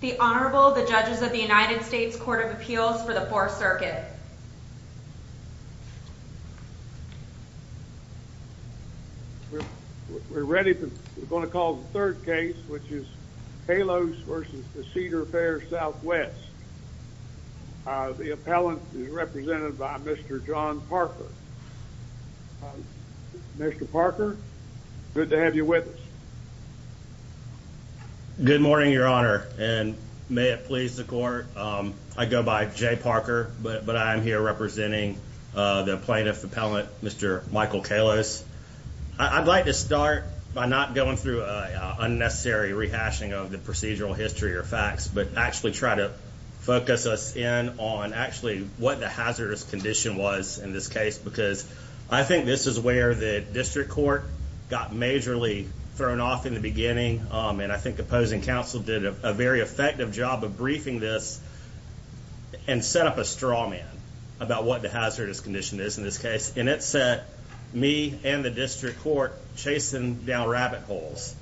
The Honorable, the Judges of the United States Court of Appeals for the Fourth Circuit. We're going to call the third case, which is Kalos v. Cedar Fair Southwest. The appellant is represented by Mr. John Parker. Mr. Parker, good to have you with us. Good morning, Your Honor, and may it please the Court. I go by Jay Parker, but I am here representing the plaintiff appellant, Mr. Michael Kalos. I'd like to start by not going through an unnecessary rehashing of the procedural history or facts, but actually try to focus us in on actually what the hazardous condition was in this case, because I think this is where the district court got majorly thrown off in the beginning, and I think opposing counsel did a very effective job of briefing this and set up a straw man about what the hazardous condition is in this case. And it set me and the district court chasing down rabbit holes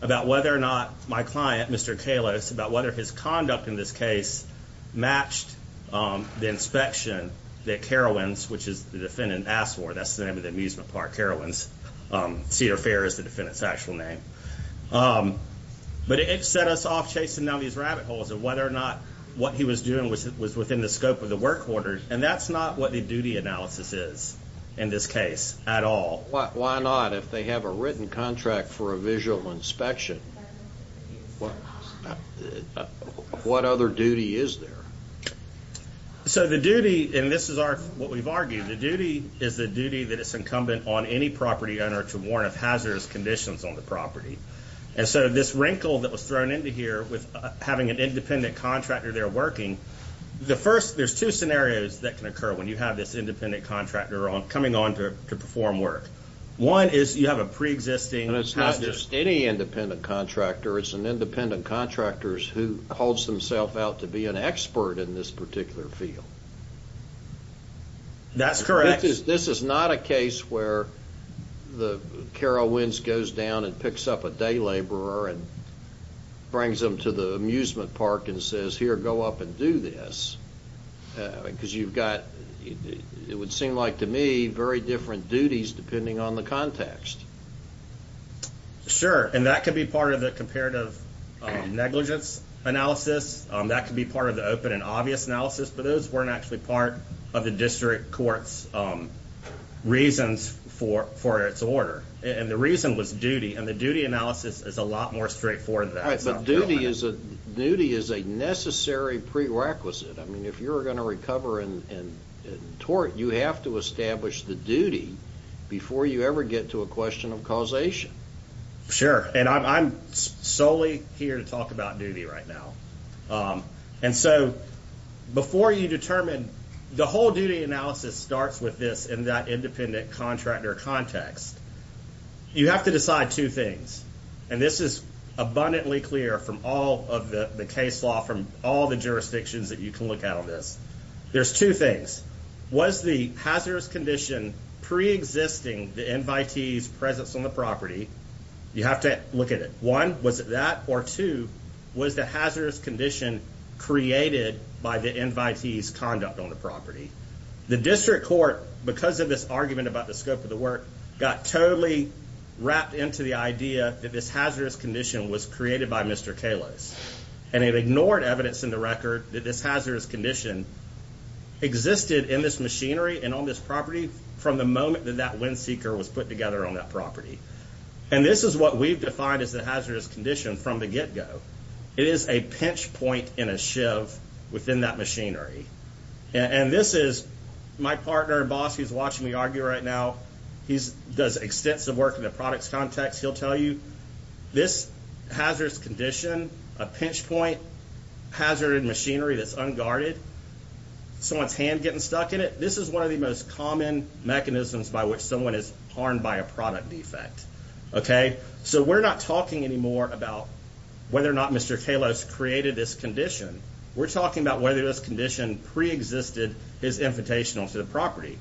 about whether or not my client, Mr. Kalos, about whether his conduct in this case matched the inspection that Carowinds, which is the defendant, asked for. That's the name of the amusement park, Carowinds. Cedar Fair is the defendant's actual name. But it set us off chasing down these rabbit holes of whether or not what he was doing was within the scope of the work order, and that's not what the duty analysis is in this case at all. Why not if they have a written contract for a visual inspection? What other duty is there? So the duty, and this is what we've argued, the duty is the duty that is incumbent on any property owner to warn of hazardous conditions on the property. And so this wrinkle that was thrown into here with having an independent contractor there working, the first, there's two scenarios that can occur when you have this independent contractor coming on to perform work. One is you have a preexisting hazard. And it's not just any independent contractor. It's an independent contractor who calls themselves out to be an expert in this particular field. That's correct. This is not a case where the Carowinds goes down and picks up a day laborer and brings them to the amusement park and says, here, go up and do this, because you've got, it would seem like to me, very different duties depending on the context. Sure. And that could be part of the comparative negligence analysis. That could be part of the open and obvious analysis. But those weren't actually part of the district court's reasons for its order. And the reason was duty. And the duty analysis is a lot more straightforward than that. But duty is a necessary prerequisite. I mean, if you're going to recover in tort, you have to establish the duty before you ever get to a question of causation. Sure. And I'm solely here to talk about duty right now. And so before you determine, the whole duty analysis starts with this in that independent contractor context. You have to decide two things. And this is abundantly clear from all of the case law, from all the jurisdictions that you can look at on this. There's two things. Was the hazardous condition preexisting the invitee's presence on the property? You have to look at it. One, was it that? Or two, was the hazardous condition created by the invitee's conduct on the property? The district court, because of this argument about the scope of the work, got totally wrapped into the idea that this hazardous condition was created by Mr. Kalos. And it ignored evidence in the record that this hazardous condition existed in this machinery and on this property from the moment that that wind seeker was put together on that property. And this is what we've defined as the hazardous condition from the get-go. It is a pinch point in a shiv within that machinery. And this is my partner and boss who's watching me argue right now. He does extensive work in the products context. He'll tell you this hazardous condition, a pinch point, hazard in machinery that's unguarded, someone's hand getting stuck in it, this is one of the most common mechanisms by which someone is harmed by a product defect. So we're not talking anymore about whether or not Mr. Kalos created this condition. We're talking about whether this condition preexisted his invitation onto the property.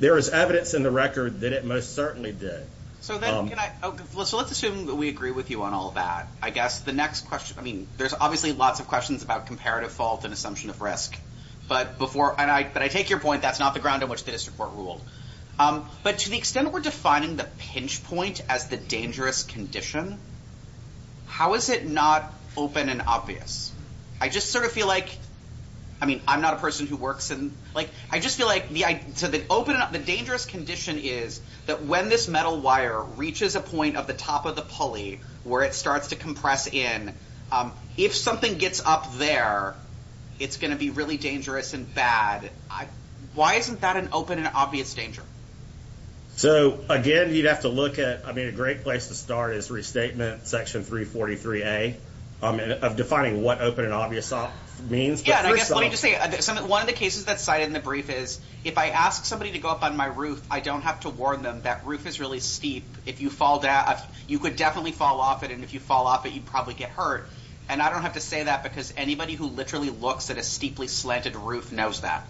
There is evidence in the record that it most certainly did. So let's assume that we agree with you on all that. I guess the next question, I mean, there's obviously lots of questions about comparative fault and assumption of risk. But before I take your point, that's not the ground on which the district court ruled. But to the extent that we're defining the pinch point as the dangerous condition, how is it not open and obvious? I just sort of feel like, I mean, I'm not a person who works in, like, I just feel like the open, the dangerous condition is that when this metal wire reaches a point of the top of the pulley, where it starts to compress in, if something gets up there, it's going to be really dangerous and bad. Why isn't that an open and obvious danger? So, again, you'd have to look at, I mean, a great place to start is restatement section 343A of defining what open and obvious means. One of the cases that's cited in the brief is if I ask somebody to go up on my roof, I don't have to warn them that roof is really steep. If you fall down, you could definitely fall off it. And if you fall off it, you'd probably get hurt. And I don't have to say that because anybody who literally looks at a steeply slanted roof knows that.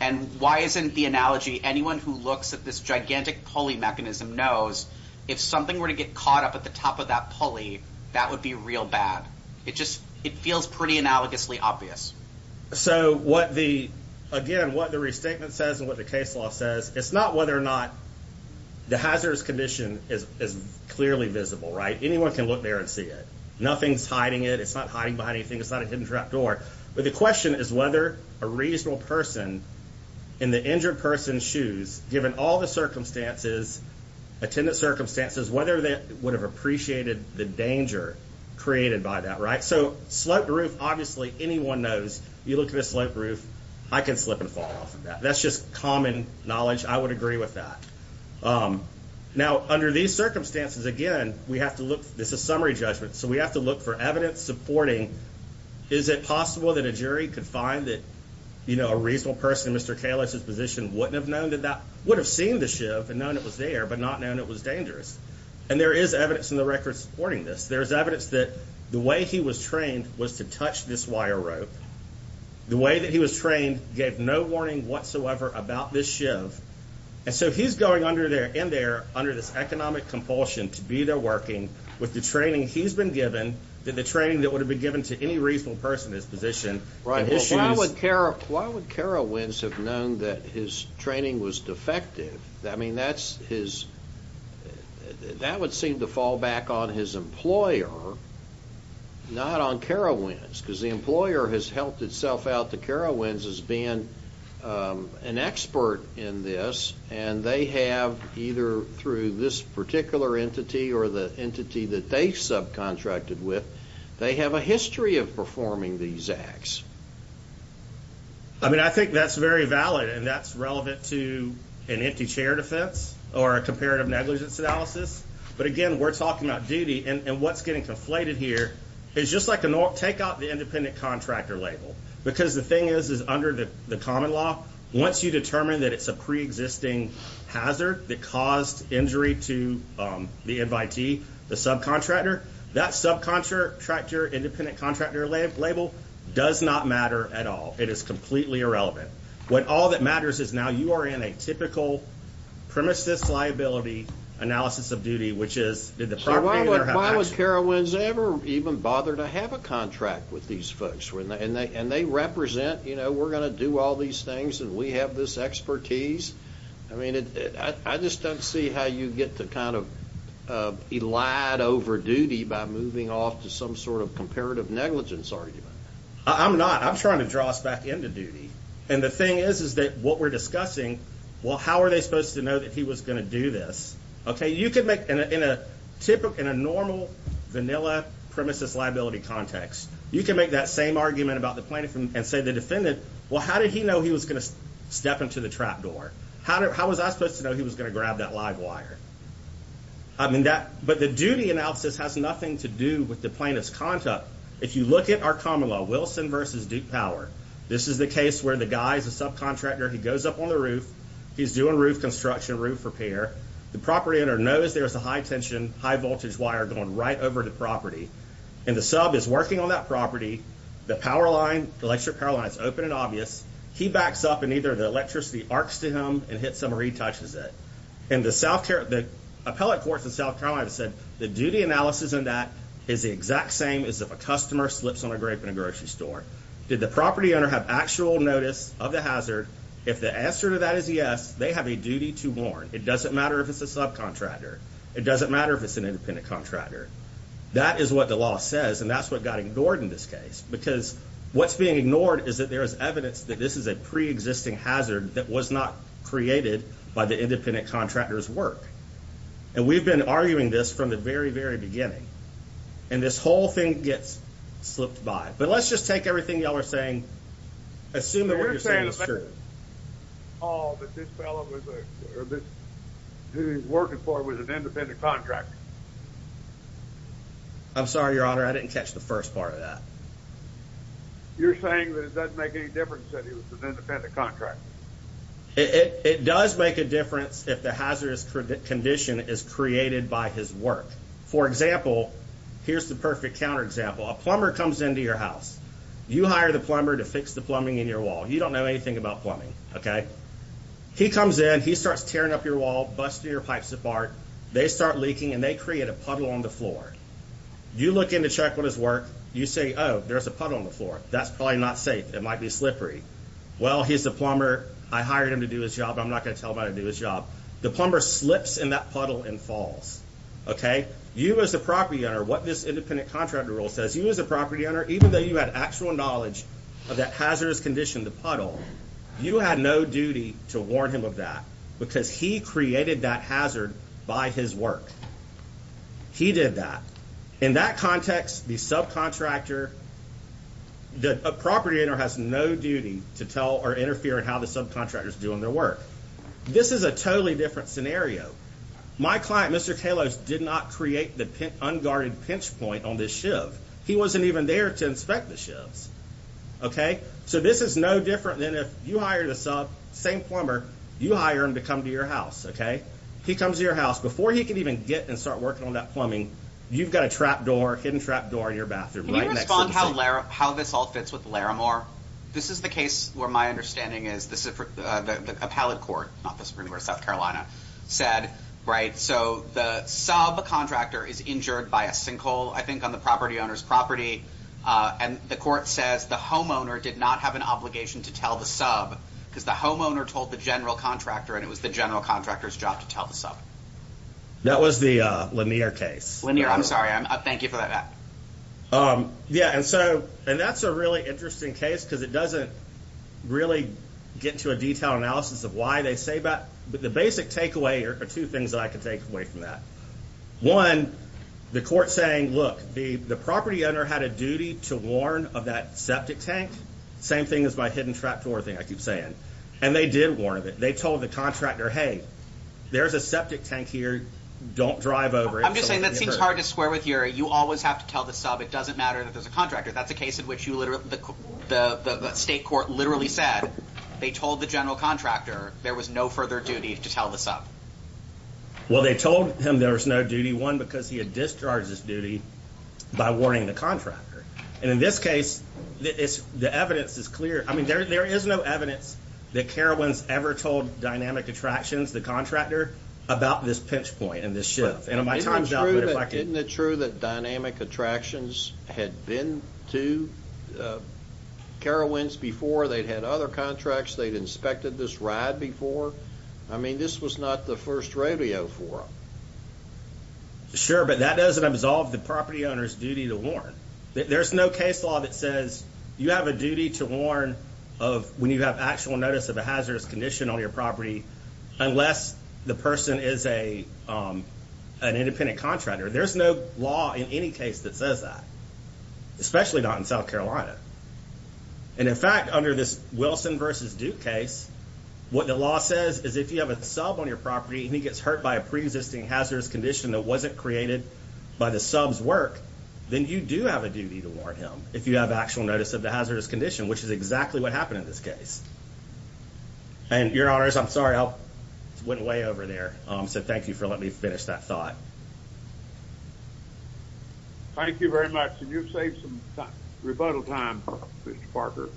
And why isn't the analogy anyone who looks at this gigantic pulley mechanism knows if something were to get caught up at the top of that pulley, that would be real bad. It just feels pretty analogously obvious. So, again, what the restatement says and what the case law says, it's not whether or not the hazardous condition is clearly visible, right? Anyone can look there and see it. Nothing's hiding it. It's not hiding behind anything. It's not a hidden trap door. But the question is whether a reasonable person in the injured person's shoes, given all the circumstances, attendant circumstances, whether they would have appreciated the danger created by that, right? So sloped roof, obviously anyone knows. You look at a sloped roof, I can slip and fall off of that. That's just common knowledge. I would agree with that. Now, under these circumstances, again, we have to look. This is summary judgment. So we have to look for evidence supporting. Is it possible that a jury could find that, you know, a reasonable person in Mr. Kalish's position wouldn't have known that that would have seen the shiv and known it was there but not known it was dangerous? And there is evidence in the records supporting this. There is evidence that the way he was trained was to touch this wire rope. The way that he was trained gave no warning whatsoever about this shiv. And so he's going under there and there under this economic compulsion to be there working with the training he's been given, the training that would have been given to any reasonable person in his position. Right. Why would Kara Wins have known that his training was defective? I mean, that would seem to fall back on his employer, not on Kara Wins, because the employer has helped itself out to Kara Wins as being an expert in this, and they have either through this particular entity or the entity that they subcontracted with, they have a history of performing these acts. I mean, I think that's very valid. And that's relevant to an empty chair defense or a comparative negligence analysis. But again, we're talking about duty. And what's getting conflated here is just like take out the independent contractor label, because the thing is, is under the common law. Once you determine that it's a pre-existing hazard that caused injury to the invitee, the subcontractor, that subcontractor, independent contractor label does not matter at all. It is completely irrelevant. What all that matters is now you are in a typical premises liability analysis of duty, which is did the property owner have action? How has Kara Wins ever even bothered to have a contract with these folks? And they represent, you know, we're going to do all these things, and we have this expertise. I mean, I just don't see how you get to kind of elide over duty by moving off to some sort of comparative negligence argument. I'm not. I'm trying to draw us back into duty. And the thing is, is that what we're discussing, well, how are they supposed to know that he was going to do this? In a normal vanilla premises liability context, you can make that same argument about the plaintiff and say the defendant, well, how did he know he was going to step into the trap door? How was I supposed to know he was going to grab that live wire? But the duty analysis has nothing to do with the plaintiff's conduct. If you look at our common law, Wilson v. Duke Power, this is the case where the guy is a subcontractor. He goes up on the roof. He's doing roof construction, roof repair. The property owner knows there's a high-tension, high-voltage wire going right over the property. And the sub is working on that property. The electric power line is open and obvious. He backs up, and either the electricity arcs to him and hits him or he touches it. And the appellate courts in South Carolina have said the duty analysis in that is the exact same as if a customer slips on a grape in a grocery store. Did the property owner have actual notice of the hazard? If the answer to that is yes, they have a duty to warn. It doesn't matter if it's a subcontractor. It doesn't matter if it's an independent contractor. That is what the law says, and that's what got ignored in this case because what's being ignored is that there is evidence that this is a preexisting hazard that was not created by the independent contractor's work. And we've been arguing this from the very, very beginning. And this whole thing gets slipped by. But let's just take everything you all are saying. Assume that what you're saying is true. Oh, but this fellow who he's working for was an independent contractor. I'm sorry, Your Honor. I didn't catch the first part of that. You're saying that it doesn't make any difference that he was an independent contractor. It does make a difference if the hazardous condition is created by his work. For example, here's the perfect counterexample. A plumber comes into your house. You hire the plumber to fix the plumbing in your wall. You don't know anything about plumbing, okay? He comes in. He starts tearing up your wall, busting your pipes apart. They start leaking, and they create a puddle on the floor. You look in to check on his work. You say, oh, there's a puddle on the floor. That's probably not safe. It might be slippery. Well, he's a plumber. I hired him to do his job. I'm not going to tell him how to do his job. The plumber slips in that puddle and falls, okay? You as the property owner, what this independent contractor rule says, you as a property owner, even though you had actual knowledge of that hazardous condition, the puddle, you had no duty to warn him of that because he created that hazard by his work. He did that. In that context, the subcontractor, the property owner, has no duty to tell or interfere in how the subcontractor is doing their work. This is a totally different scenario. My client, Mr. Kalos, did not create the unguarded pinch point on this shiv. He wasn't even there to inspect the shivs, okay? So this is no different than if you hired a sub, same plumber, you hire him to come to your house, okay? He comes to your house. Before he can even get and start working on that plumbing, you've got a trap door, hidden trap door in your bathroom right next to the sink. Can you respond to how this all fits with Laramore? This is the case where my understanding is this is a pallet court, not the Supreme Court of South Carolina, said, right, so the subcontractor is injured by a sinkhole, I think, on the property owner's property, and the court says the homeowner did not have an obligation to tell the sub because the homeowner told the general contractor, and it was the general contractor's job to tell the sub. That was the Lanier case. Lanier, I'm sorry. Thank you for that. Yeah, and that's a really interesting case because it doesn't really get to a detailed analysis of why they say that. The basic takeaway are two things that I can take away from that. One, the court saying, look, the property owner had a duty to warn of that septic tank, same thing as my hidden trap door thing I keep saying, and they did warn of it. They told the contractor, hey, there's a septic tank here. Don't drive over it. I'm just saying that seems hard to square with, Uri. You always have to tell the sub. It doesn't matter that there's a contractor. That's a case in which the state court literally said they told the general contractor there was no further duty to tell the sub. Well, they told him there was no duty, one, because he had discharged his duty by warning the contractor. And in this case, the evidence is clear. I mean, there is no evidence that Carowinds ever told Dynamic Attractions, the contractor, about this pinch point and this shift. Isn't it true that Dynamic Attractions had been to Carowinds before? They'd had other contracts. They'd inspected this ride before. I mean, this was not the first radio forum. Sure, but that doesn't absolve the property owner's duty to warn. There's no case law that says you have a duty to warn of when you have actual notice of a hazardous condition on your property unless the person is an independent contractor. There's no law in any case that says that, especially not in South Carolina. And, in fact, under this Wilson v. Duke case, what the law says is if you have a sub on your property and he gets hurt by a preexisting hazardous condition that wasn't created by the sub's work, then you do have a duty to warn him if you have actual notice of the hazardous condition, which is exactly what happened in this case. And, Your Honors, I'm sorry I went way over there, so thank you for letting me finish that thought. Thank you very much. And you've saved some rebuttal time, Mr. Parker.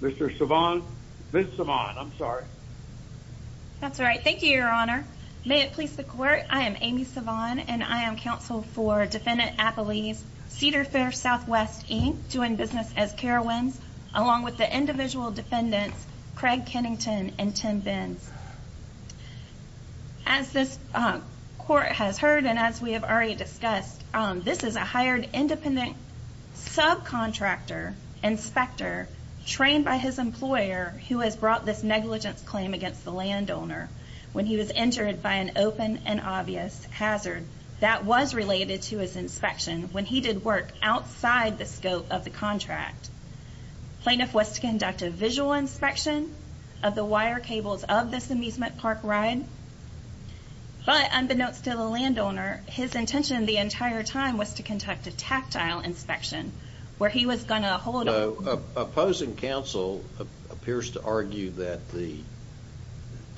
Ms. Savant, I'm sorry. That's all right. Thank you, Your Honor. May it please the Court, I am Amy Savant, and I am counsel for Defendant Appley's Cedar Fair Southwest Inc., doing business as Carowinds, along with the individual defendants, Craig Kennington and Tim Benz. As this Court has heard and as we have already discussed, this is a hired independent subcontractor inspector trained by his employer who has brought this negligence claim against the landowner when he was entered by an open and obvious hazard. That was related to his inspection when he did work outside the scope of the contract. Plaintiff was to conduct a visual inspection of the wire cables of this amusement park ride, but unbeknownst to the landowner, his intention the entire time was to conduct a tactile inspection, where he was going to hold a-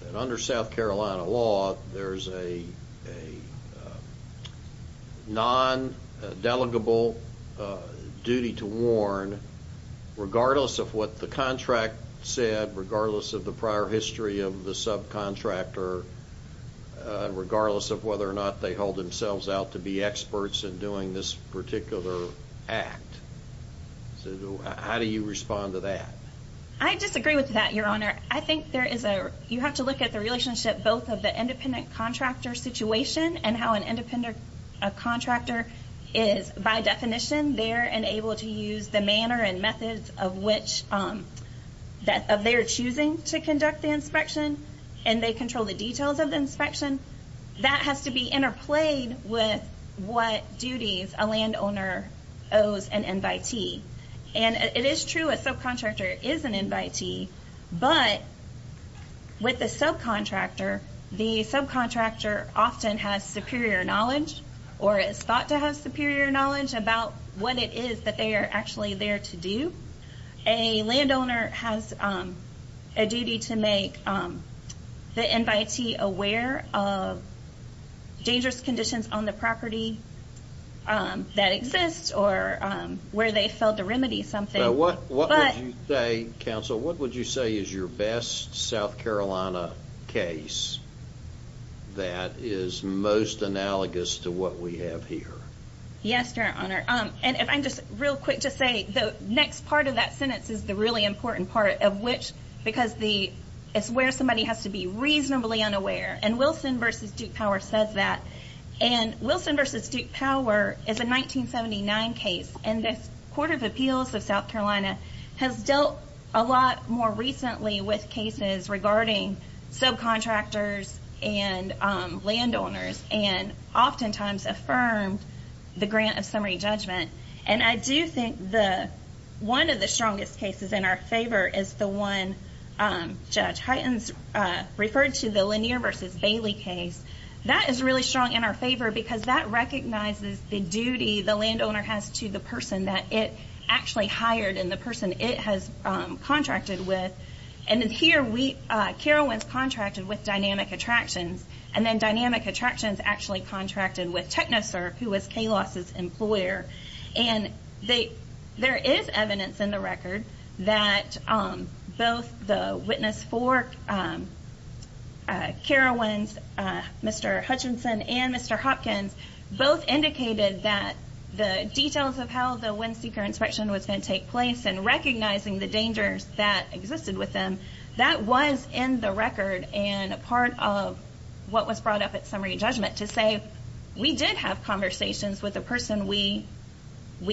that under South Carolina law, there's a non-delegable duty to warn, regardless of what the contract said, regardless of the prior history of the subcontractor, regardless of whether or not they hold themselves out to be experts in doing this particular act. How do you respond to that? I disagree with that, Your Honor. I think there is a- you have to look at the relationship both of the independent contractor situation and how an independent contractor is, by definition, there and able to use the manner and methods of which- of their choosing to conduct the inspection, and they control the details of the inspection. That has to be interplayed with what duties a landowner owes an invitee. And it is true a subcontractor is an invitee, but with a subcontractor, the subcontractor often has superior knowledge or is thought to have superior knowledge about what it is that they are actually there to do. A landowner has a duty to make the invitee aware of dangerous conditions on the property that exist or where they failed to remedy something. What would you say, counsel, what would you say is your best South Carolina case that is most analogous to what we have here? Yes, Your Honor. And if I'm just real quick to say the next part of that sentence is the really important part of which- because it's where somebody has to be reasonably unaware. And Wilson v. Duke Power says that. And Wilson v. Duke Power is a 1979 case, and this Court of Appeals of South Carolina has dealt a lot more recently with cases regarding subcontractors and landowners and oftentimes affirmed the grant of summary judgment. And I do think one of the strongest cases in our favor is the one Judge Hytens referred to, the Lanier v. Bailey case. That is really strong in our favor because that recognizes the duty the landowner has to the person that it actually hired and the person it has contracted with. And here, Carowinds contracted with Dynamic Attractions, and then Dynamic Attractions actually contracted with TechnoSurf, who was Kalos's employer. And there is evidence in the record that both the witness for Carowinds, Mr. Hutchinson, and Mr. Hopkins, both indicated that the details of how the windseeker inspection was going to take place and recognizing the dangers that existed with them, that was in the record and a part of what was brought up at summary judgment to say we did have conversations with the person we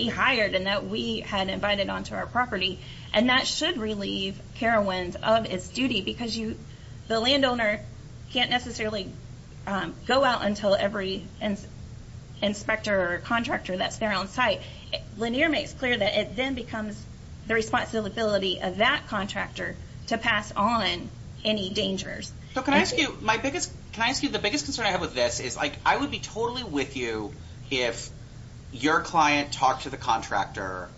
hired and that we had invited onto our property. And that should relieve Carowinds of its duty because the landowner can't necessarily go out until every inspector or contractor that's there on site. Lanier makes clear that it then becomes the responsibility of that contractor to pass on any dangers. So can I ask you, the biggest concern I have with this is I would be totally with you if your client talked to the contractor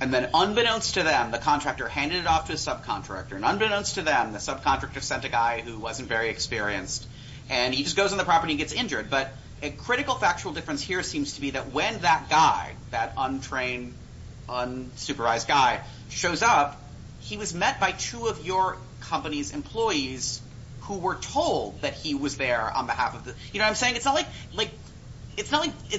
and then unbeknownst to them, the contractor handed it off to a subcontractor, and unbeknownst to them, the subcontractor sent a guy who wasn't very experienced, and he just goes on the property and gets injured. But a critical factual difference here seems to be that when that guy, that untrained, unsupervised guy, shows up, he was met by two of your company's employees who were told that he was there on behalf of the, you know what I'm saying? It's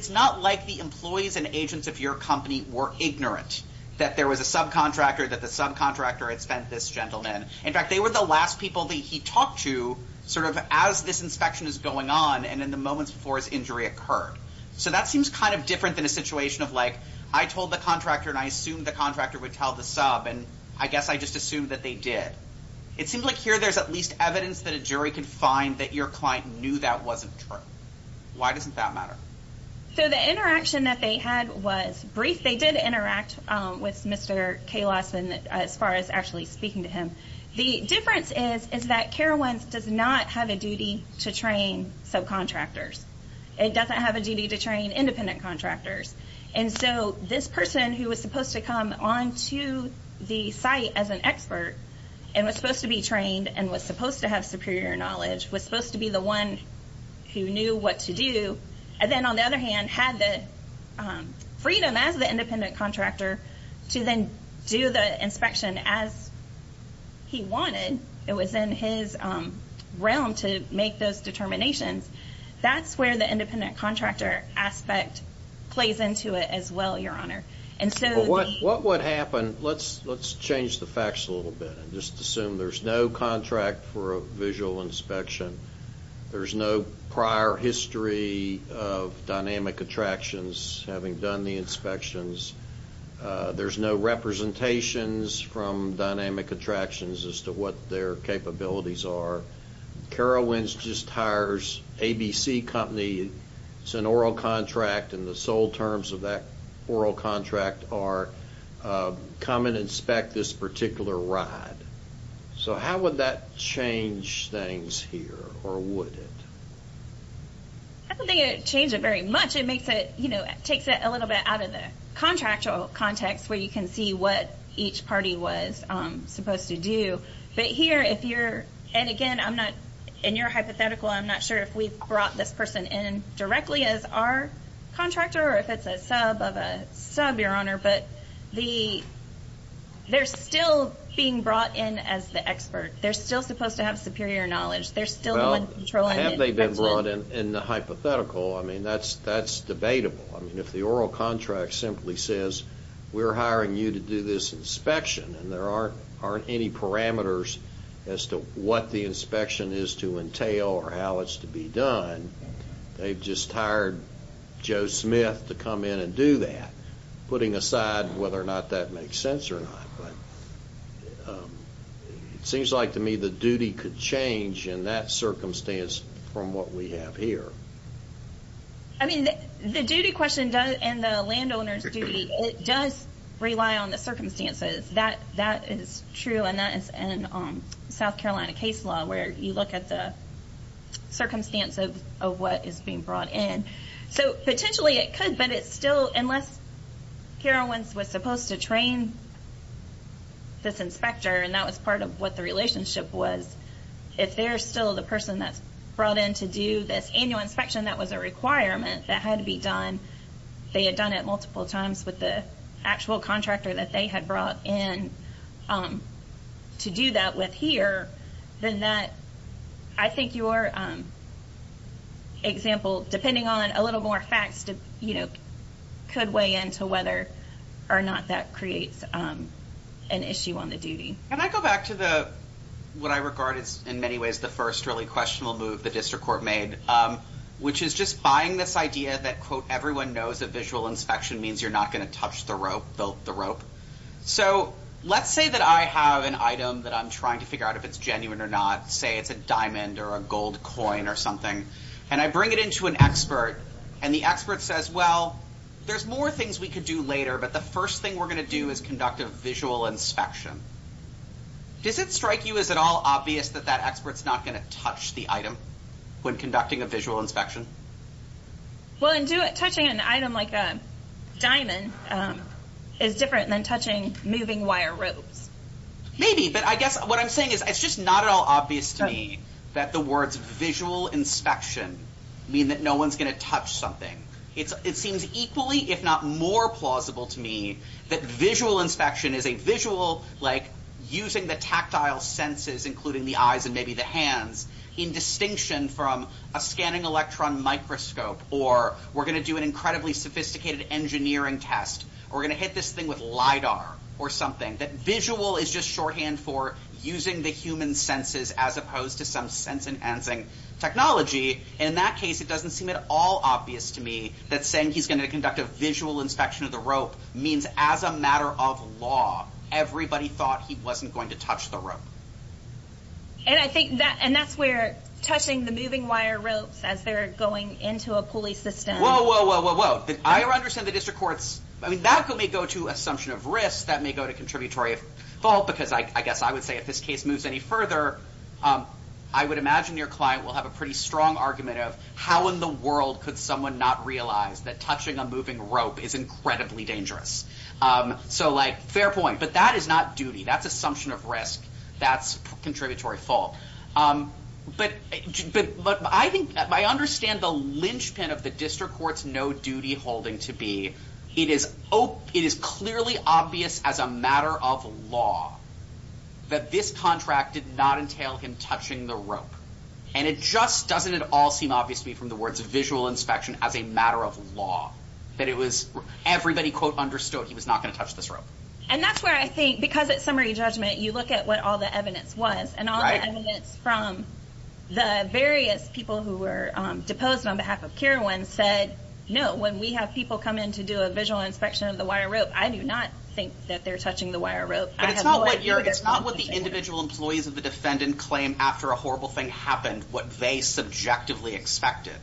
not like the employees and agents of your company were ignorant that there was a subcontractor, that the subcontractor had sent this gentleman. In fact, they were the last people that he talked to sort of as this inspection is going on and in the moments before his injury occurred. So that seems kind of different than a situation of like I told the contractor and I assumed the contractor would tell the sub and I guess I just assumed that they did. It seems like here there's at least evidence that a jury can find that your client knew that wasn't true. Why doesn't that matter? So the interaction that they had was brief. They did interact with Mr. Kalos as far as actually speaking to him. The difference is is that Carowinds does not have a duty to train subcontractors. It doesn't have a duty to train independent contractors. And so this person who was supposed to come on to the site as an expert and was supposed to be trained and was supposed to have superior knowledge, was supposed to be the one who knew what to do, and then on the other hand had the freedom as the independent contractor to then do the inspection as he wanted. It was in his realm to make those determinations. That's where the independent contractor aspect plays into it as well, Your Honor. What would happen, let's change the facts a little bit and just assume there's no contract for a visual inspection. There's no prior history of Dynamic Attractions having done the inspections. There's no representations from Dynamic Attractions as to what their capabilities are. Carowinds just hires ABC Company. It's an oral contract, and the sole terms of that oral contract are come and inspect this particular ride. So how would that change things here, or would it? I don't think it would change it very much. It takes it a little bit out of the contractual context where you can see what each party was supposed to do. Again, in your hypothetical, I'm not sure if we've brought this person in directly as our contractor or if it's a sub of a sub, Your Honor, but they're still being brought in as the expert. They're still supposed to have superior knowledge. They're still the one controlling it. Have they been brought in in the hypothetical? That's debatable. If the oral contract simply says, we're hiring you to do this inspection and there aren't any parameters as to what the inspection is to entail or how it's to be done, they've just hired Joe Smith to come in and do that, putting aside whether or not that makes sense or not. It seems like to me the duty could change in that circumstance from what we have here. I mean, the duty question and the landowner's duty, it does rely on the circumstances. That is true, and that is in South Carolina case law, where you look at the circumstance of what is being brought in. So potentially it could, but it's still unless Karen Wentz was supposed to train this inspector, and that was part of what the relationship was, if they're still the person that's brought in to do this annual inspection that was a requirement that had to be done, they had done it multiple times with the actual contractor that they had brought in to do that with here, then that, I think your example, depending on a little more facts, could weigh in to whether or not that creates an issue on the duty. Can I go back to what I regard as in many ways the first really questionable move the district court made, which is just buying this idea that, quote, everyone knows that visual inspection means you're not going to touch the rope. So let's say that I have an item that I'm trying to figure out if it's genuine or not, say it's a diamond or a gold coin or something, and I bring it into an expert, and the expert says, well, there's more things we could do later, but the first thing we're going to do is conduct a visual inspection. Does it strike you as at all obvious that that expert's not going to touch the item when conducting a visual inspection? Well, touching an item like a diamond is different than touching moving wire ropes. Maybe, but I guess what I'm saying is it's just not at all obvious to me that the words visual inspection mean that no one's going to touch something. It seems equally if not more plausible to me that visual inspection is a visual like using the tactile senses, including the eyes and maybe the hands, in distinction from a scanning electron microscope or we're going to do an incredibly sophisticated engineering test or we're going to hit this thing with LIDAR or something. That visual is just shorthand for using the human senses as opposed to some sense enhancing technology. In that case, it doesn't seem at all obvious to me that saying he's going to conduct a visual inspection of the rope means as a matter of law, everybody thought he wasn't going to touch the rope. And I think that's where touching the moving wire ropes as they're going into a pulley system. Whoa, whoa, whoa, whoa, whoa. I understand the district courts. I mean, that may go to assumption of risk. That may go to contributory fault because I guess I would say if this case moves any further, I would imagine your client will have a pretty strong argument of how in the world could someone not realize that touching a moving rope is incredibly dangerous. So, like, fair point. But that is not duty. That's assumption of risk. That's contributory fault. But I think I understand the linchpin of the district court's no duty holding to be. It is clearly obvious as a matter of law that this contract did not entail him touching the rope. And it just doesn't at all seem obvious to me from the words of visual inspection as a matter of law that it was everybody, quote, understood he was not going to touch this rope. And that's where I think because it's summary judgment, you look at what all the evidence was. And all the evidence from the various people who were deposed on behalf of Kirwan said, no, when we have people come in to do a visual inspection of the wire rope, I do not think that they're touching the wire rope. It's not what the individual employees of the defendant claim after a horrible thing happened, what they subjectively expected.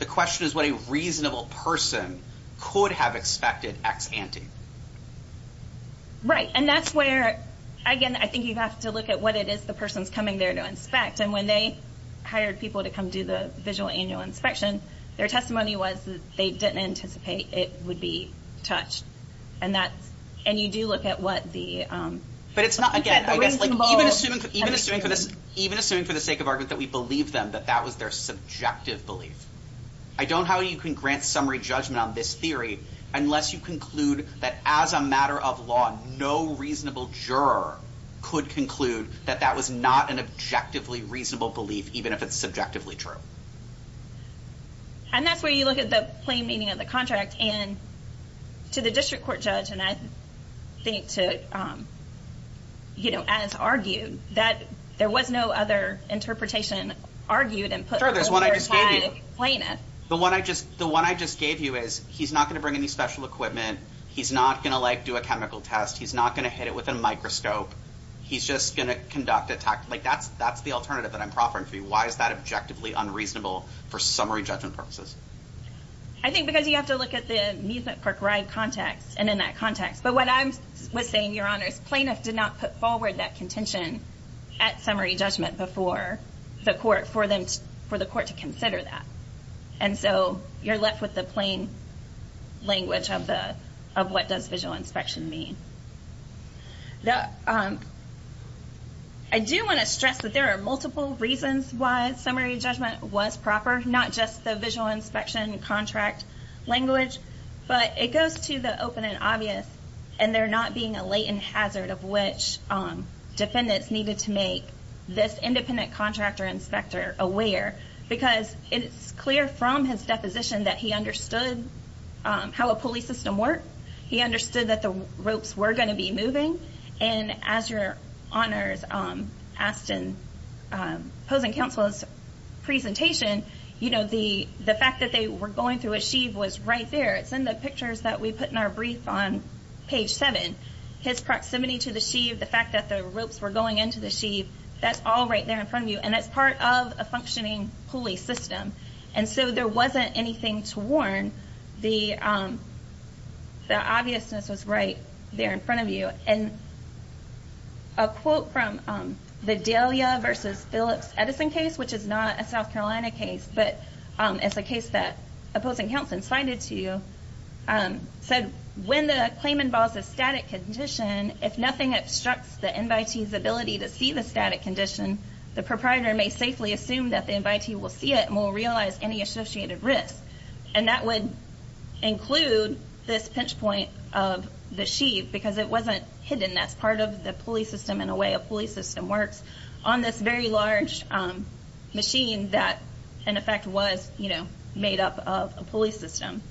The question is what a reasonable person could have expected ex ante. Right. And that's where, again, I think you have to look at what it is the person's coming there to inspect. And when they hired people to come do the visual annual inspection, their testimony was that they didn't anticipate it would be touched. And that's and you do look at what the. But it's not again, I guess, like even assuming, even assuming for this, even assuming for the sake of argument that we believe them, that that was their subjective belief. I don't know how you can grant summary judgment on this theory unless you conclude that as a matter of law, no reasonable juror could conclude that that was not an objectively reasonable belief, even if it's subjectively true. And that's where you look at the plain meaning of the contract and to the district court judge. And I think, too, you know, as argued that there was no other interpretation argued. And there's one I just gave you. The one I just the one I just gave you is he's not going to bring any special equipment. He's not going to like do a chemical test. He's not going to hit it with a microscope. He's just going to conduct attack like that's that's the alternative that I'm proffering for you. Why is that objectively unreasonable for summary judgment purposes? I think because you have to look at the amusement park ride context and in that context. But what I'm saying, Your Honor, is plaintiff did not put forward that contention at summary judgment before the court for them, for the court to consider that. And so you're left with the plain language of the of what does visual inspection mean? I do want to stress that there are multiple reasons why summary judgment was proper, not just the visual inspection contract language. But it goes to the open and obvious. And there not being a latent hazard of which defendants needed to make this independent contractor inspector aware, because it's clear from his deposition that he understood how a police system worked. He understood that the ropes were going to be moving. And as your honors, asked in opposing counsel's presentation, you know, the the fact that they were going through a sheave was right there. It's in the pictures that we put in our brief on page seven. His proximity to the sheave, the fact that the ropes were going into the sheave, that's all right there in front of you. And that's part of a functioning pulley system. And so there wasn't anything to warn. The obviousness was right there in front of you. And a quote from the Delia versus Phillips Edison case, which is not a South Carolina case, but it's a case that opposing counsel cited to you said when the claim involves a static condition, if nothing obstructs the invitees ability to see the static condition, the proprietor may safely assume that the invitee will see it and will realize any associated risk. And that would include this pinch point of the sheave because it wasn't hidden. That's part of the pulley system. In a way, a pulley system works on this very large machine that in effect was, you know, made up of a pulley system.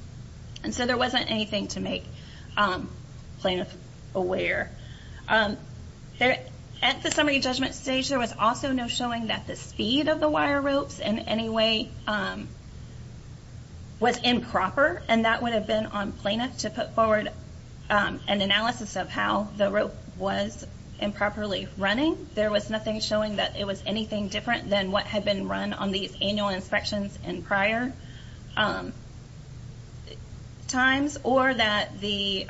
And so there wasn't anything to make plaintiff aware there at the summary judgment stage. There was also no showing that the speed of the wire ropes in any way was improper. And that would have been on plaintiff to put forward an analysis of how the rope was improperly running. There was nothing showing that it was anything different than what had been run on these annual inspections and prior times or that the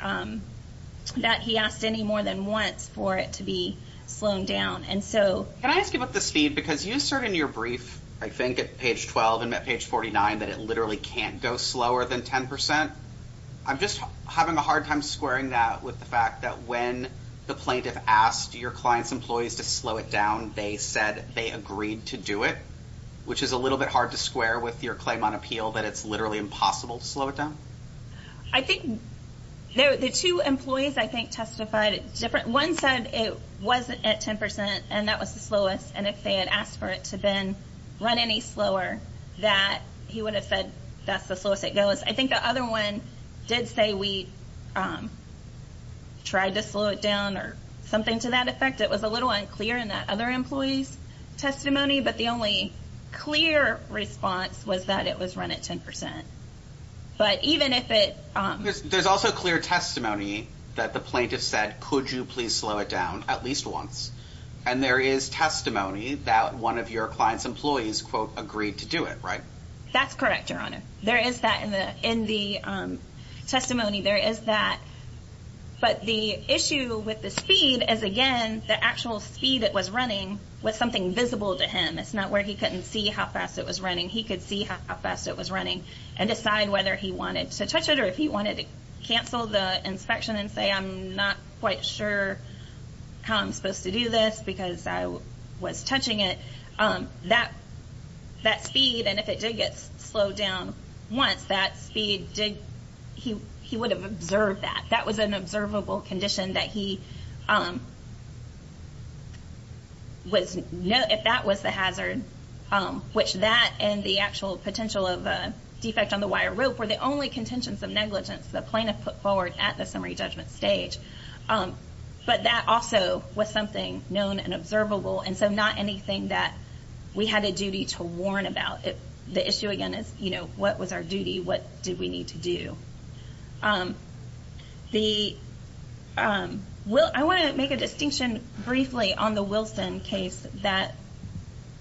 that he asked any more than once for it to be slowing down. And so can I ask you about the speed? Because you assert in your brief, I think at page 12 and page 49 that it literally can't go slower than 10 percent. I'm just having a hard time squaring that with the fact that when the plaintiff asked your clients, employees to slow it down, they said they agreed to do it, which is a little bit hard to square with your claim on appeal that it's literally impossible to slow it down. I think the two employees, I think, testified different. One said it wasn't at 10 percent and that was the slowest. And if they had asked for it to then run any slower that he would have said that's the slowest it goes. I think the other one did say we tried to slow it down or something to that effect. It was a little unclear in that other employee's testimony. But the only clear response was that it was run at 10 percent. But even if it there's also clear testimony that the plaintiff said, could you please slow it down at least once? And there is testimony that one of your client's employees, quote, agreed to do it, right? That's correct, Your Honor. There is that in the in the testimony. There is that. But the issue with the speed is, again, the actual speed it was running was something visible to him. It's not where he couldn't see how fast it was running. He could see how fast it was running and decide whether he wanted to touch it or if he wanted to cancel the inspection and say, I'm not quite sure how I'm supposed to do this because I was touching it. That speed, and if it did get slowed down once, that speed did, he would have observed that. That was an observable condition that he was, if that was the hazard, which that and the actual potential of a defect on the wire rope were the only contentions of negligence the plaintiff put forward at the summary judgment stage. But that also was something known and observable. And so not anything that we had a duty to warn about. The issue, again, is, you know, what was our duty? What did we need to do? I want to make a distinction briefly on the Wilson case that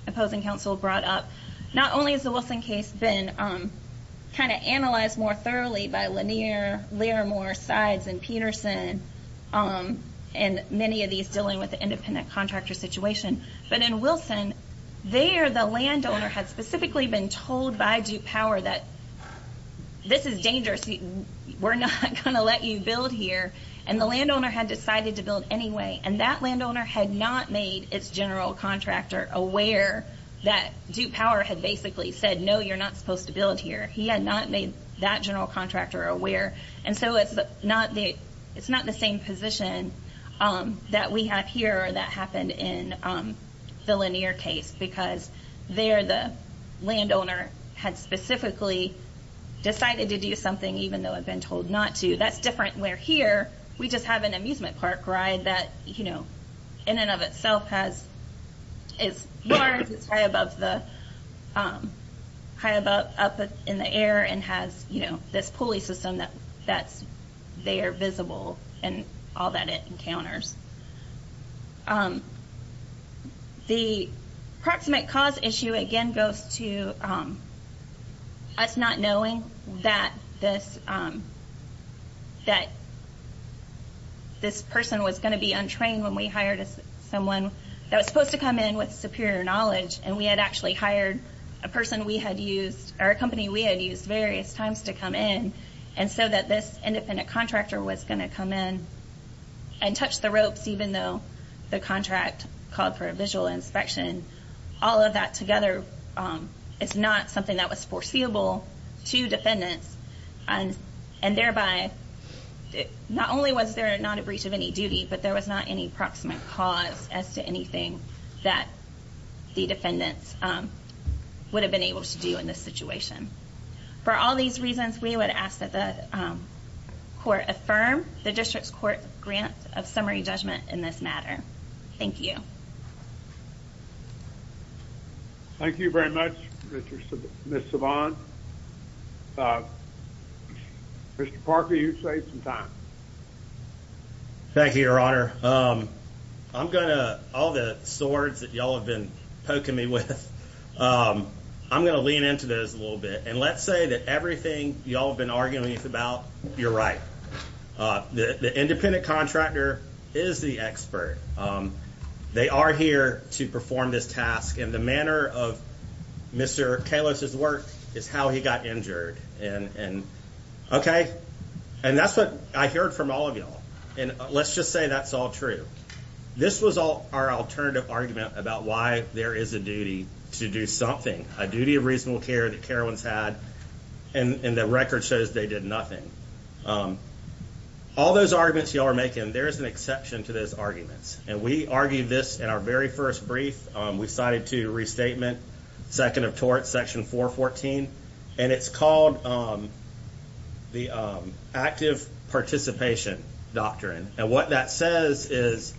opposing counsel brought up. Not only has the Wilson case been kind of analyzed more thoroughly by Lanier, Laramore, Sides, and Peterson, and many of these dealing with the independent contractor situation, but in Wilson, there the landowner had specifically been told by Duke Power that this is dangerous. We're not going to let you build here. And the landowner had decided to build anyway. And that landowner had not made its general contractor aware that Duke Power had basically said, no, you're not supposed to build here. He had not made that general contractor aware. And so it's not the same position that we have here or that happened in the Lanier case because there the landowner had specifically decided to do something even though had been told not to. That's different where here we just have an amusement park ride that, you know, in and of itself is large. It's high up in the air and has, you know, this pulley system that's there visible and all that it encounters. The proximate cause issue, again, goes to us not knowing that this person was going to be untrained when we hired someone that was supposed to come in with superior knowledge, and we had actually hired a person we had used or a company we had used various times to come in, and so that this independent contractor was going to come in and touch the ropes even though the contract called for a visual inspection. All of that together is not something that was foreseeable to defendants, and thereby not only was there not a breach of any duty, but there was not any proximate cause as to anything that the defendants would have been able to do in this situation. For all these reasons, we would ask that the court affirm the district's court grant of summary judgment in this matter. Thank you. Thank you very much, Ms. Savant. Mr. Parker, you've saved some time. Thank you, Your Honor. All the swords that you all have been poking me with, I'm going to lean into those a little bit, and let's say that everything you all have been arguing about, you're right. The independent contractor is the expert. They are here to perform this task, and the manner of Mr. Kalos's work is how he got injured. Okay, and that's what I heard from all of you all, and let's just say that's all true. This was our alternative argument about why there is a duty to do something, a duty of reasonable care that carowinds had, and the record shows they did nothing. All those arguments you all are making, there is an exception to those arguments, and we argued this in our very first brief. We cited to restatement, second of torts, section 414, and it's called the active participation doctrine, and what that says is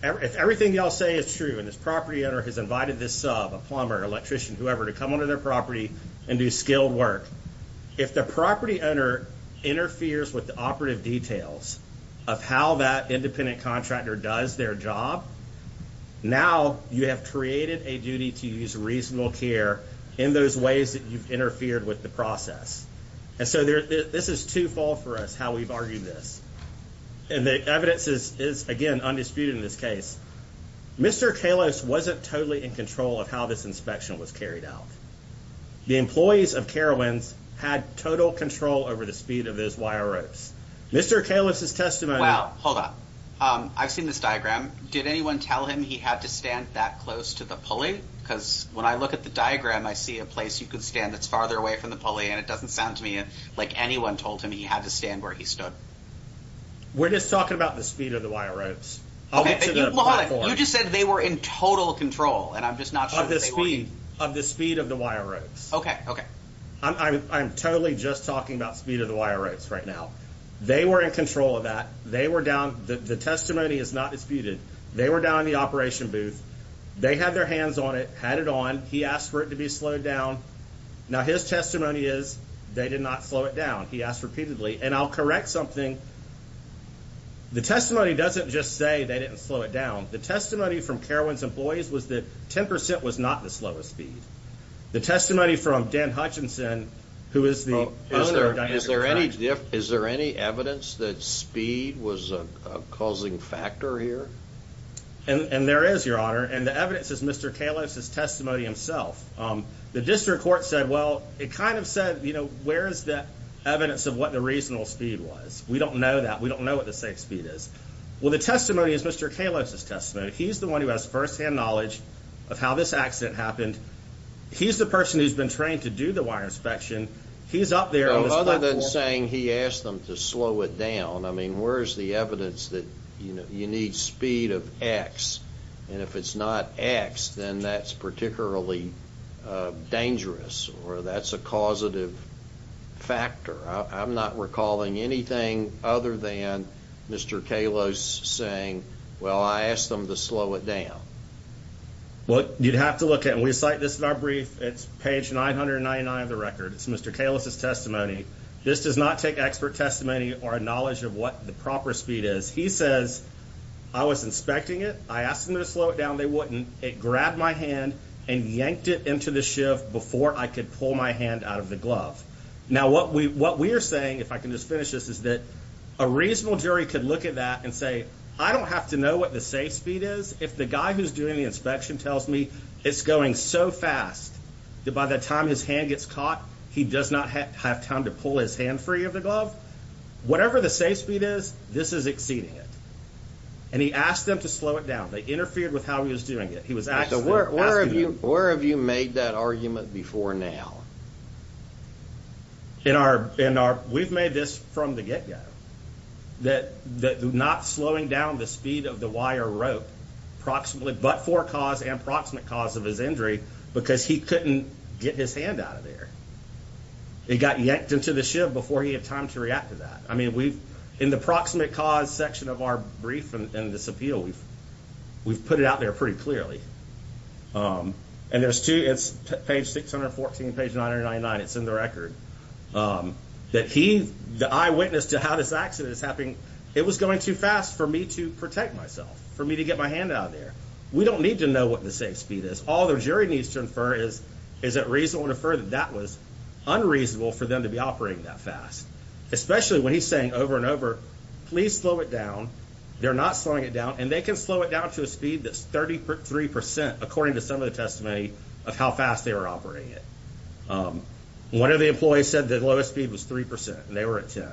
if everything you all say is true, and this property owner has invited this sub, a plumber, electrician, whoever, to come onto their property and do skilled work, if the property owner interferes with the operative details of how that independent contractor does their job, now you have created a duty to use reasonable care in those ways that you've interfered with the process, and so this is twofold for us how we've argued this, and the evidence is, again, undisputed in this case. Mr. Kalos wasn't totally in control of how this inspection was carried out. The employees of Carowinds had total control over the speed of those wire ropes. Mr. Kalos's testimony- Hold on, hold on. I've seen this diagram. Did anyone tell him he had to stand that close to the pulley? Because when I look at the diagram, I see a place you could stand that's farther away from the pulley, and it doesn't sound to me like anyone told him he had to stand where he stood. We're just talking about the speed of the wire ropes. Okay, but you just said they were in total control, and I'm just not sure- Of the speed of the wire ropes. Okay, okay. I'm totally just talking about speed of the wire ropes right now. They were in control of that. The testimony is not disputed. They were down in the operation booth. They had their hands on it, had it on. He asked for it to be slowed down. Now, his testimony is they did not slow it down. He asked repeatedly, and I'll correct something. The testimony doesn't just say they didn't slow it down. The testimony from Carowinds employees was that 10% was not the slowest speed. The testimony from Dan Hutchinson, who is the owner of Diamond and Crown. Is there any evidence that speed was a causing factor here? And there is, Your Honor, and the evidence is Mr. Kalos' testimony himself. The district court said, well, it kind of said, you know, where is the evidence of what the reasonable speed was? We don't know that. We don't know what the safe speed is. Well, the testimony is Mr. Kalos' testimony. He's the one who has firsthand knowledge of how this accident happened. He's the person who's been trained to do the wire inspection. He's up there on this platform. Well, other than saying he asked them to slow it down, I mean, where is the evidence that you need speed of X? And if it's not X, then that's particularly dangerous or that's a causative factor. I'm not recalling anything other than Mr. Kalos saying, well, I asked them to slow it down. Well, you'd have to look at it. We cite this in our brief. It's page 999 of the record. It's Mr. Kalos' testimony. This does not take expert testimony or knowledge of what the proper speed is. He says, I was inspecting it. I asked them to slow it down. They wouldn't. It grabbed my hand and yanked it into the shift before I could pull my hand out of the glove. Now, what we are saying, if I can just finish this, is that a reasonable jury could look at that and say, I don't have to know what the safe speed is. If the guy who's doing the inspection tells me it's going so fast that by the time his hand gets caught, he does not have time to pull his hand free of the glove, whatever the safe speed is, this is exceeding it. And he asked them to slow it down. They interfered with how he was doing it. Where have you made that argument before now? We've made this from the get-go, that not slowing down the speed of the wire rope, but for cause and proximate cause of his injury, because he couldn't get his hand out of there. It got yanked into the shift before he had time to react to that. In the proximate cause section of our brief and this appeal, we've put it out there pretty clearly. And it's page 614, page 999. It's in the record. The eyewitness to how this accident is happening, it was going too fast for me to protect myself, for me to get my hand out of there. We don't need to know what the safe speed is. All the jury needs to infer is, is it reasonable to infer that that was unreasonable for them to be operating that fast, especially when he's saying over and over, please slow it down. They're not slowing it down. And they can slow it down to a speed that's 33 percent, according to some of the testimony, of how fast they were operating it. One of the employees said the lowest speed was 3 percent, and they were at 10.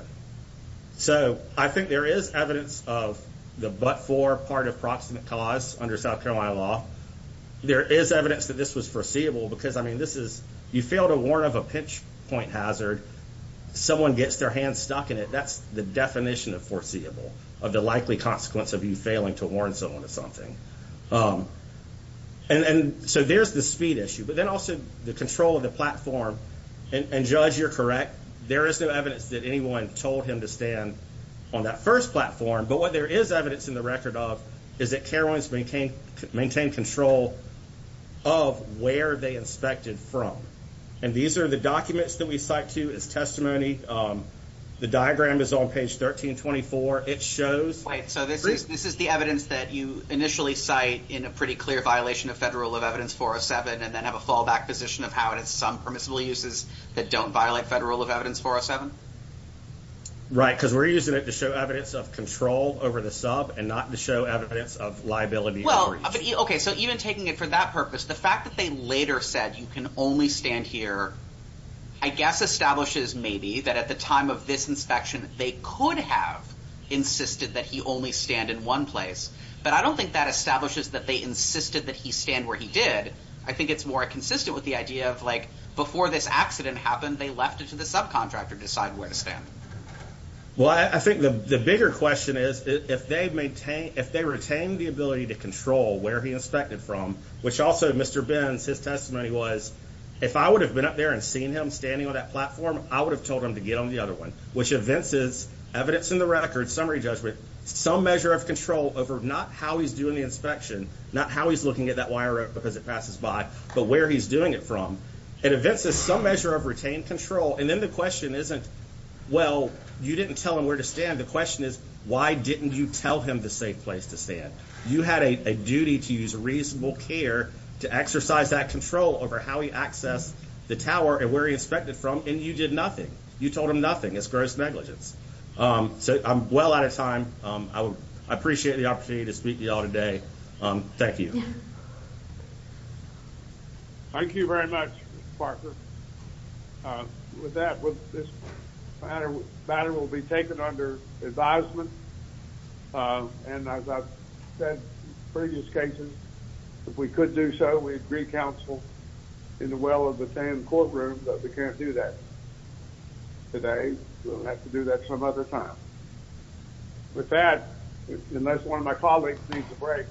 So I think there is evidence of the but-for part of proximate cause under South Carolina law. There is evidence that this was foreseeable, because, I mean, this is, you fail to warn of a pinch-point hazard. Someone gets their hand stuck in it. That's the definition of foreseeable, of the likely consequence of you failing to warn someone of something. And so there's the speed issue. But then also the control of the platform. And, Judge, you're correct. There is no evidence that anyone told him to stand on that first platform. But what there is evidence in the record of is that carowinds maintained control of where they inspected from. And these are the documents that we cite to as testimony. The diagram is on page 1324. It shows. So this is the evidence that you initially cite in a pretty clear violation of Federal Rule of Evidence 407 and then have a fallback position of how it is some permissible uses that don't violate Federal Rule of Evidence 407? Right, because we're using it to show evidence of control over the sub and not to show evidence of liability. Well, OK, so even taking it for that purpose, the fact that they later said you can only stand here, I guess establishes maybe that at the time of this inspection, they could have insisted that he only stand in one place. But I don't think that establishes that they insisted that he stand where he did. I think it's more consistent with the idea of, like, before this accident happened, they left it to the subcontractor to decide where to stand. Well, I think the bigger question is, if they retain the ability to control where he inspected from, which also Mr. Benz, his testimony was, if I would have been up there and seen him standing on that platform, I would have told him to get on the other one, which evinces evidence in the record, summary judgment, some measure of control over not how he's doing the inspection, not how he's looking at that wire rope because it passes by, but where he's doing it from. It evinces some measure of retained control. And then the question isn't, well, you didn't tell him where to stand. The question is, why didn't you tell him the safe place to stand? You had a duty to use reasonable care to exercise that control over how he accessed the tower and where he inspected from, and you did nothing. You told him nothing. It's gross negligence. So I'm well out of time. I appreciate the opportunity to speak to you all today. Thank you. Thank you very much, Mr. Parker. With that, this matter will be taken under advisement, and as I've said in previous cases, if we could do so, we'd agree counsel in the well of the same courtroom, but we can't do that today. We'll have to do that some other time. With that, unless one of my colleagues needs a break.